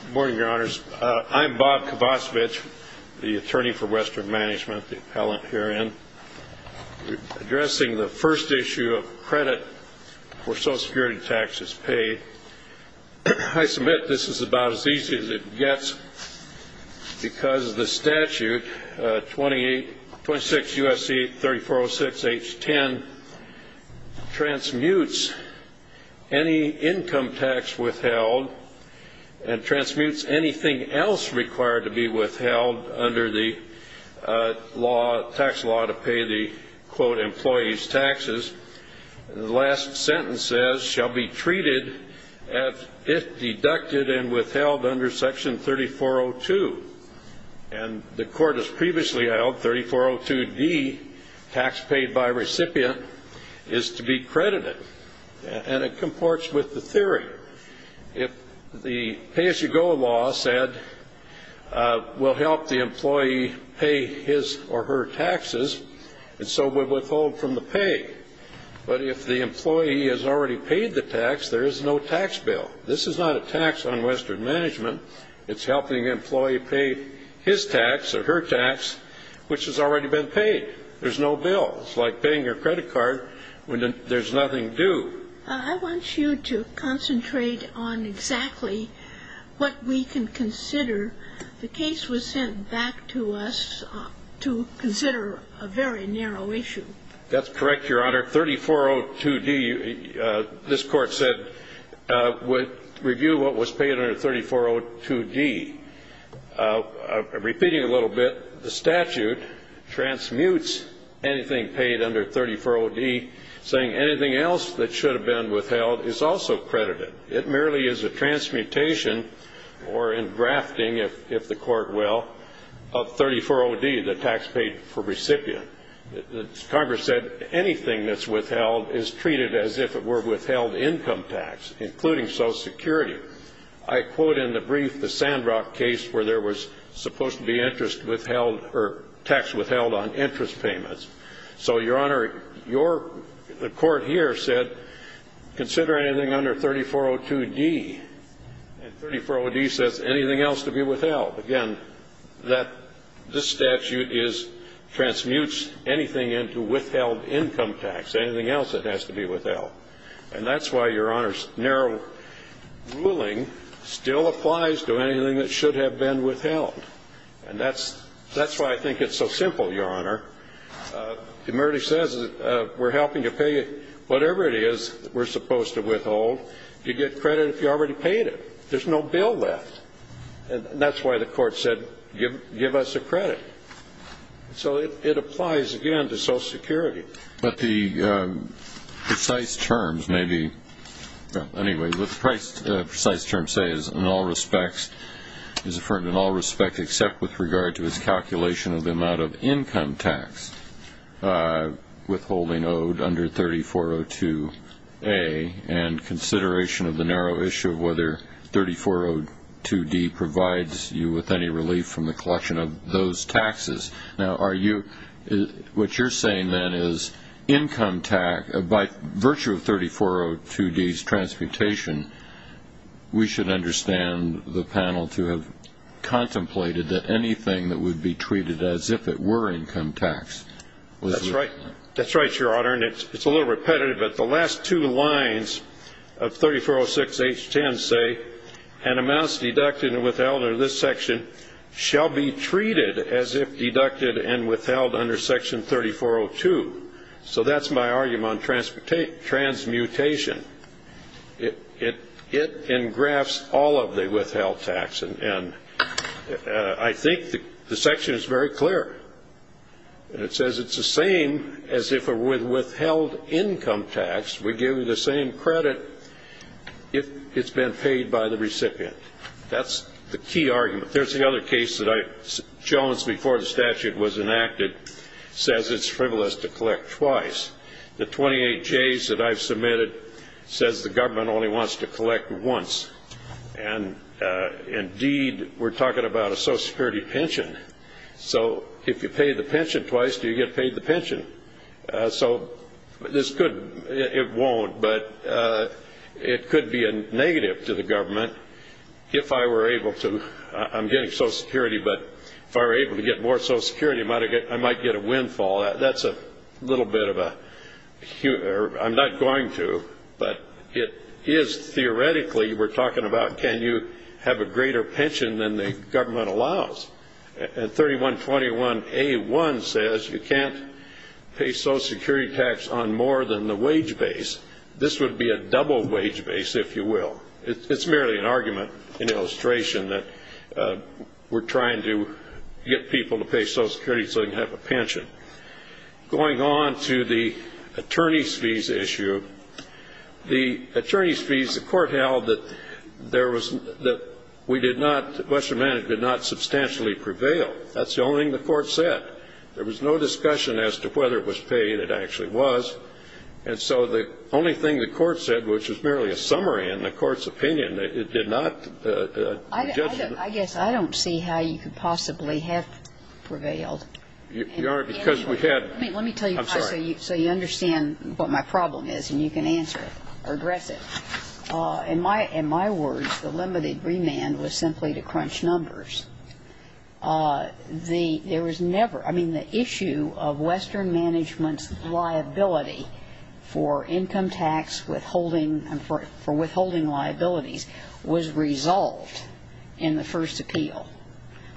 Good morning, your honors. I'm Bob Kovacevich, the attorney for Western Management, the appellant herein, addressing the first issue of credit for Social Security taxes paid. I submit this is about as easy as it gets because the statute, 26 U.S.C. 3406 H. 10, transmutes any income tax withheld and transmutes anything else required to be withheld under the tax law to pay the, quote, employees' taxes. The last sentence says, shall be treated as if deducted and withheld under Section 3402. And the court has previously held 3402 D, tax paid by recipient, is to be credited. And it comports with the theory. If the pay-as-you-go law said we'll help the employee pay his or her taxes, and so we'll withhold from the pay. But if the employee has already paid the tax, there is no tax bill. This is not a tax on Western Management. It's helping an employee pay his tax or her tax, which has already been paid. There's no bill. It's like paying your credit card when there's nothing due. I want you to concentrate on exactly what we can consider. The case was sent back to us to consider a very narrow issue. That's correct, your honor. Under 3402 D, this court said review what was paid under 3402 D. Repeating a little bit, the statute transmutes anything paid under 3402 D, saying anything else that should have been withheld is also credited. It merely is a transmutation or engrafting, if the court will, of 3402 D, the tax paid for recipient. Congress said anything that's withheld is treated as if it were withheld income tax, including Social Security. I quote in the brief the Sandrock case where there was supposed to be interest withheld or tax withheld on interest payments. So, your honor, your court here said consider anything under 3402 D, and 3402 D says anything else to be withheld. Again, this statute transmutes anything into withheld income tax, anything else that has to be withheld. And that's why your honor's narrow ruling still applies to anything that should have been withheld. And that's why I think it's so simple, your honor. It merely says we're helping you pay whatever it is that we're supposed to withhold. You get credit if you already paid it. There's no bill left. And that's why the court said give us a credit. So it applies, again, to Social Security. But the precise terms may be, well, anyway, what the precise terms say is in all respects, is affirmed in all respects except with regard to its calculation of the amount of income tax withholding owed under 3402 A and consideration of the narrow issue of whether 3402 D provides you with any relief from the collection of those taxes. Now, what you're saying, then, is income tax, by virtue of 3402 D's transmutation, we should understand the panel to have contemplated that anything that would be treated as if it were income tax. That's right. That's right, your honor. And it's a little repetitive, but the last two lines of 3406 H-10 say an amount is deducted and withheld under this section shall be treated as if deducted and withheld under Section 3402. So that's my argument on transmutation. It engrafts all of the withheld tax. And I think the section is very clear. And it says it's the same as if it were withheld income tax. We give you the same credit if it's been paid by the recipient. That's the key argument. There's another case that Jones, before the statute was enacted, says it's frivolous to collect twice. The 28 J's that I've submitted says the government only wants to collect once. And, indeed, we're talking about a Social Security pension. So if you pay the pension twice, you get paid the pension. So it won't, but it could be negative to the government if I were able to. I'm getting Social Security, but if I were able to get more Social Security, I might get a windfall. That's a little bit of a hue. I'm not going to, but it is theoretically we're talking about can you have a greater pension than the government allows. And 3121A1 says you can't pay Social Security tax on more than the wage base. This would be a double wage base, if you will. It's merely an argument, an illustration that we're trying to get people to pay Social Security so they can have a pension. Going on to the attorneys' fees issue, the attorneys' fees, the Court held that there was no ‑‑ that we did not, Western Manic did not substantially prevail. That's the only thing the Court said. There was no discussion as to whether it was paid. It actually was. And so the only thing the Court said, which was merely a summary in the Court's opinion, it did not ‑‑ I guess I don't see how you could possibly have prevailed. Because we had ‑‑ Let me tell you, so you understand what my problem is and you can answer it or address it. In my words, the limited remand was simply to crunch numbers. There was never ‑‑ I mean, the issue of Western Management's liability for income tax withholding and for withholding liabilities was resolved in the first appeal.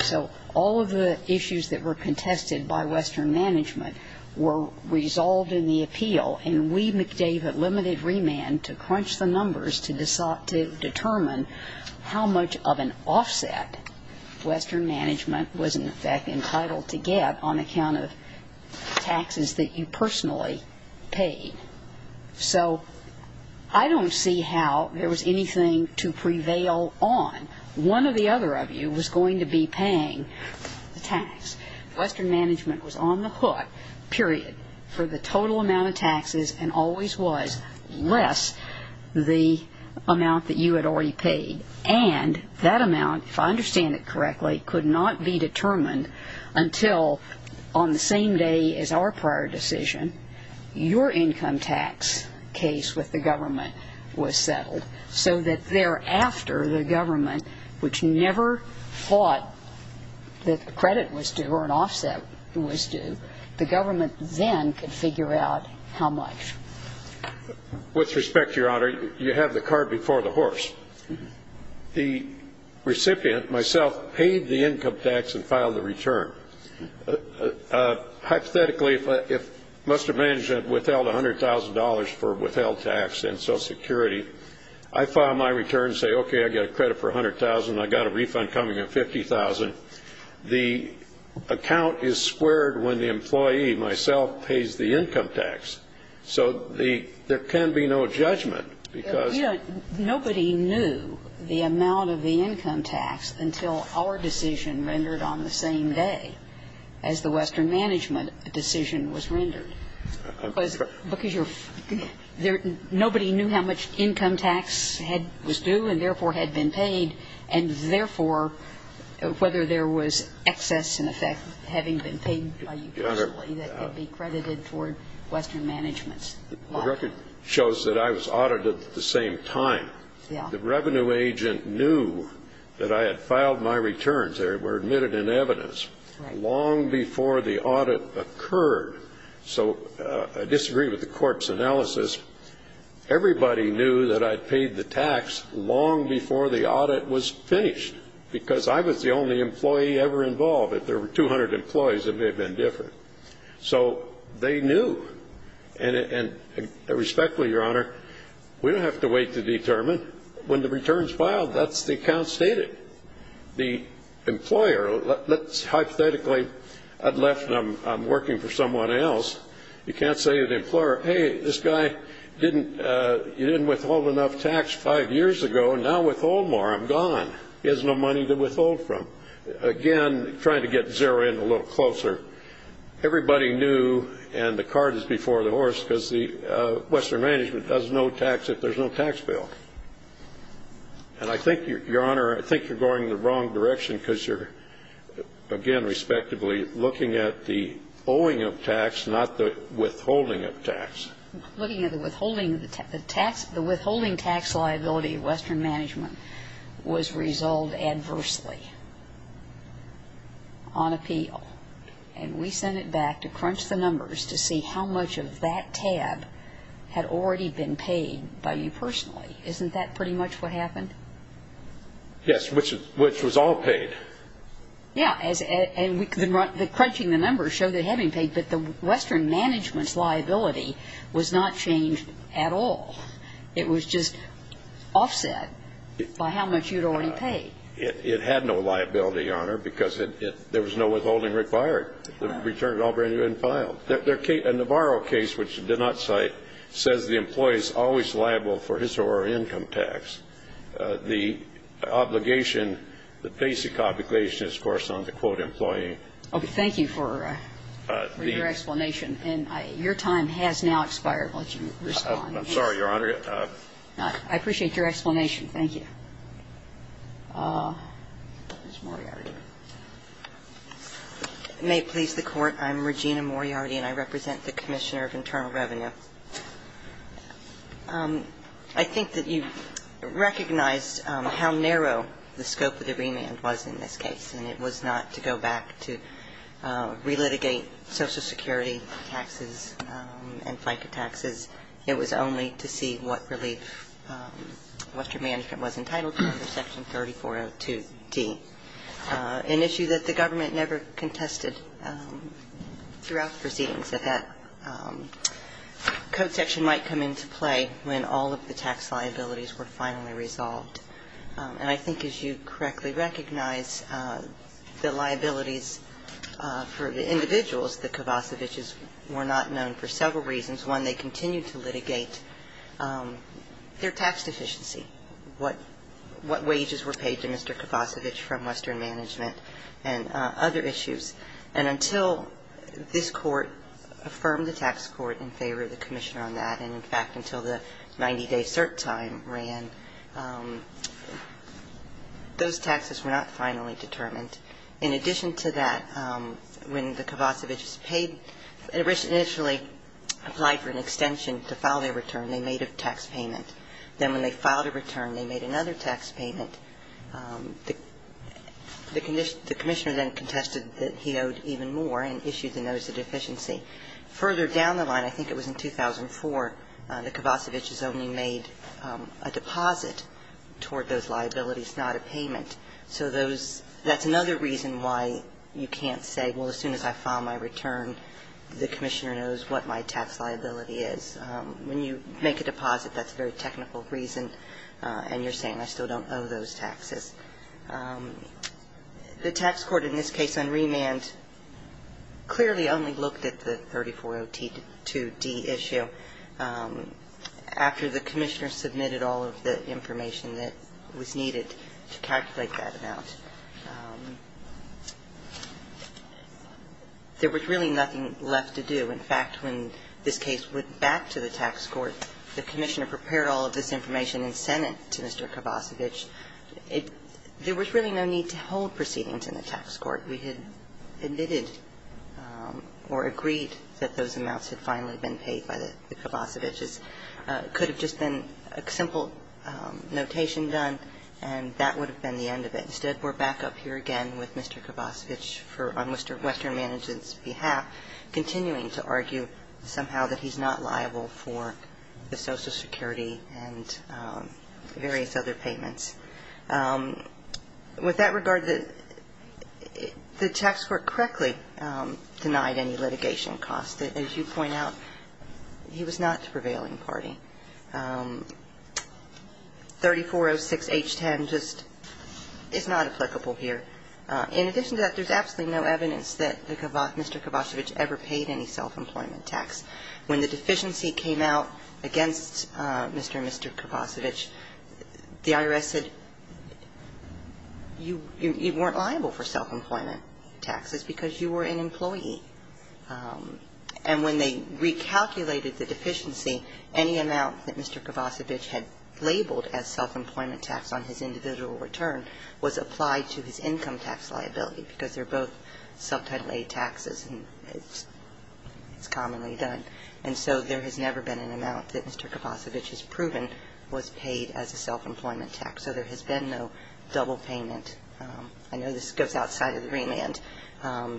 So all of the issues that were contested by Western Management were resolved in the appeal, and we, McDavid, limited remand to crunch the numbers to determine how much of an offset Western Management was, in effect, entitled to get on account of taxes that you personally paid. So I don't see how there was anything to prevail on. One of the other of you was going to be paying the tax. Western Management was on the hook, period, for the total amount of taxes, and always was, less the amount that you had already paid. And that amount, if I understand it correctly, could not be determined until on the same day as our prior decision, your income tax case with the government was settled. So that thereafter, the government, which never thought that a credit was due or an offset was due, the government then could figure out how much. With respect, Your Honor, you have the card before the horse. The recipient, myself, paid the income tax and filed the return. Hypothetically, if Western Management withheld $100,000 for a withheld tax in Social Security, I file my return, say, okay, I get a credit for $100,000, I've got a refund coming in of $50,000. The account is squared when the employee, myself, pays the income tax. So there can be no judgment because you know, nobody knew the amount of the income tax until our decision rendered on the same day as the Western Management decision was rendered. Because nobody knew how much income tax was due and, therefore, had been paid, and, therefore, whether there was excess in effect having been paid by you personally that could be credited toward Western Management's. The record shows that I was audited at the same time. The revenue agent knew that I had filed my returns. They were admitted in evidence long before the audit occurred. So I disagree with the court's analysis. Everybody knew that I had paid the tax long before the audit was finished because I was the only employee ever involved. If there were 200 employees, it may have been different. So they knew. And respectfully, Your Honor, we don't have to wait to determine. When the returns filed, that's the account stated. The employer, hypothetically, I'd left and I'm working for someone else. You can't say to the employer, hey, this guy, you didn't withhold enough tax five years ago. Now withhold more, I'm gone. He has no money to withhold from. So, again, trying to get zero in a little closer, everybody knew, and the card is before the horse because Western Management does no tax if there's no tax bill. And I think, Your Honor, I think you're going in the wrong direction because you're, again, respectively looking at the owing of tax, not the withholding of tax. Looking at the withholding of the tax, the withholding tax liability of Western Management was resolved adversely on appeal. And we sent it back to crunch the numbers to see how much of that tab had already been paid by you personally. Isn't that pretty much what happened? Yes, which was all paid. Yeah, and crunching the numbers showed it had been paid, but the Western Management's liability was not changed at all. It was just offset by how much you'd already paid. It had no liability, Your Honor, because there was no withholding required. The return had already been filed. The Navarro case, which did not cite, says the employee is always liable for his or her income tax. The obligation, the basic obligation is, of course, on the, quote, employee. Okay. Thank you for your explanation. And your time has now expired. I'll let you respond. I'm sorry, Your Honor. I appreciate your explanation. Thank you. Ms. Moriarty. May it please the Court. I'm Regina Moriarty, and I represent the Commissioner of Internal Revenue. I think that you recognized how narrow the scope of the remand was in this case, and it was not to go back to relitigate Social Security taxes and FICA taxes. It was only to see what relief Western Management was entitled to under Section 3402D, an issue that the government never contested throughout the proceedings, that that code section might come into play when all of the tax liabilities were finally resolved. And I think, as you correctly recognize, the liabilities for the individuals, the Kovacevichs, were not known for several reasons. One, they continued to litigate their tax deficiency, what wages were paid to Mr. Kovacevich from Western Management and other issues. And until this Court affirmed the tax court in favor of the Commissioner on that, and, in fact, until the 90-day cert time ran, those taxes were not finally determined. In addition to that, when the Kovacevichs paid, initially applied for an extension to file their return, they made a tax payment. Then when they filed a return, they made another tax payment. The Commissioner then contested that he owed even more and issued the notice of deficiency. Further down the line, I think it was in 2004, the Kovacevichs only made a deposit toward those liabilities, not a payment. So those – that's another reason why you can't say, well, as soon as I file my return, the Commissioner knows what my tax liability is. When you make a deposit, that's a very technical reason, and you're saying, I still don't owe those taxes. The tax court in this case on remand clearly only looked at the 3402D issue after the Commissioner submitted all of the information that was needed to calculate that amount. There was really nothing left to do. In fact, when this case went back to the tax court, the Commissioner prepared all of this information and sent it to Mr. Kovacevich. There was really no need to hold proceedings in the tax court. We had admitted or agreed that those amounts had finally been paid by the Kovacevichs. It could have just been a simple notation done, and that would have been the end of it. Instead, we're back up here again with Mr. Kovacevich on Western Management's behalf, continuing to argue somehow that he's not liable for the Social Security and various other payments. With that regard, the tax court correctly denied any litigation costs. As you point out, he was not the prevailing party. 3406H10 just is not applicable here. In addition to that, there's absolutely no evidence that Mr. Kovacevich ever paid any self-employment tax. When the deficiency came out against Mr. and Mr. Kovacevich, the IRS said you weren't liable for self-employment taxes because you were an employee. And when they recalculated the deficiency, any amount that Mr. Kovacevich had labeled as self-employment tax on his individual return was applied to his income tax liability because they're both subtitle A taxes, and it's commonly done. And so there has never been an amount that Mr. Kovacevich has proven was paid as a self-employment tax. So there has been no double payment. I know this goes outside of the remand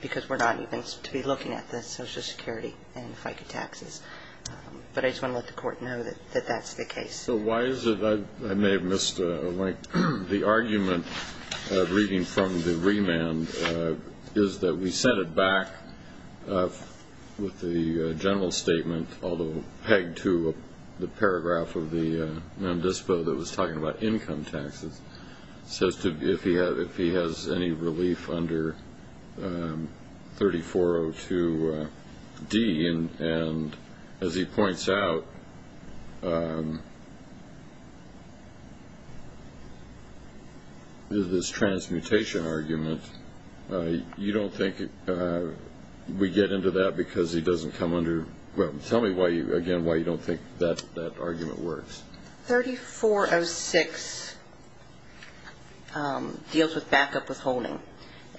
because we're not even to be looking at the Social Security and FICA taxes. But I just want to let the Court know that that's the case. So why is it that I may have missed a link? The argument reading from the remand is that we set it back with the general statement, although pegged to the paragraph of the non-disposal that was talking about income taxes, says if he has any relief under 3402D. And as he points out, this transmutation argument, you don't think we get into that because he doesn't come under – well, tell me, again, why you don't think that argument works. 3406 deals with backup withholding.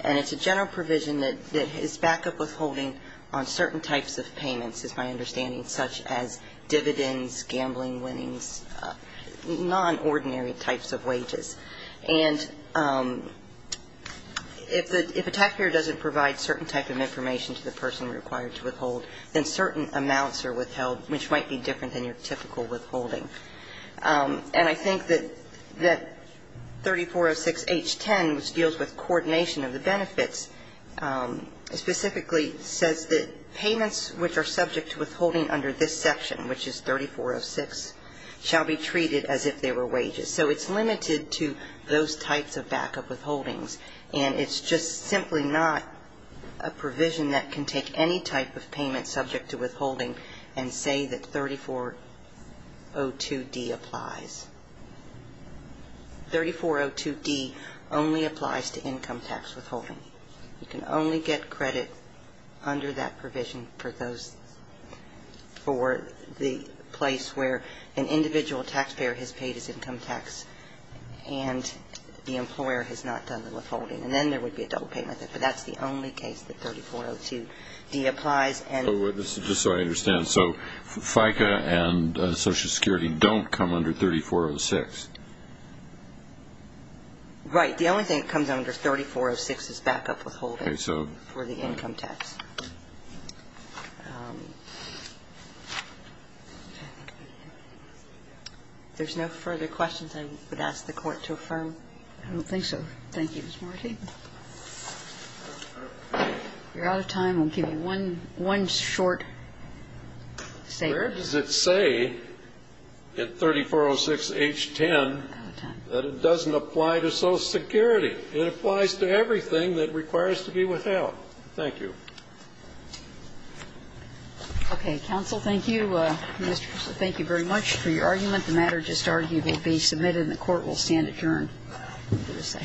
And it's a general provision that is backup withholding on certain types of payments, is my understanding, such as dividends, gambling winnings, non-ordinary types of wages. And if a taxpayer doesn't provide certain type of information to the person required to withhold, then certain amounts are withheld, which might be different than your typical withholding. And I think that 3406H.10, which deals with coordination of the benefits, specifically says that payments which are subject to withholding under this section, which is 3406, shall be treated as if they were wages. So it's limited to those types of backup withholdings. And it's just simply not a provision that can take any type of payment subject to withholding and say that 3402D applies. 3402D only applies to income tax withholding. You can only get credit under that provision for the place where an individual taxpayer has paid his income tax and the employer has not done the withholding. And then there would be a double payment. But that's the only case that 3402D applies. Just so I understand, so FICA and Social Security don't come under 3406? Right. The only thing that comes under 3406 is backup withholding for the income tax. If there's no further questions, I would ask the Court to affirm. I don't think so. Thank you, Ms. Marti. If you're out of time, I'll give you one short statement. Where does it say in 3406H.10 that it doesn't apply to Social Security? It applies to everything that requires to be withheld. Thank you. Okay. Counsel, thank you. Thank you very much for your argument. The matter just argued will be submitted and the Court will stand adjourned for this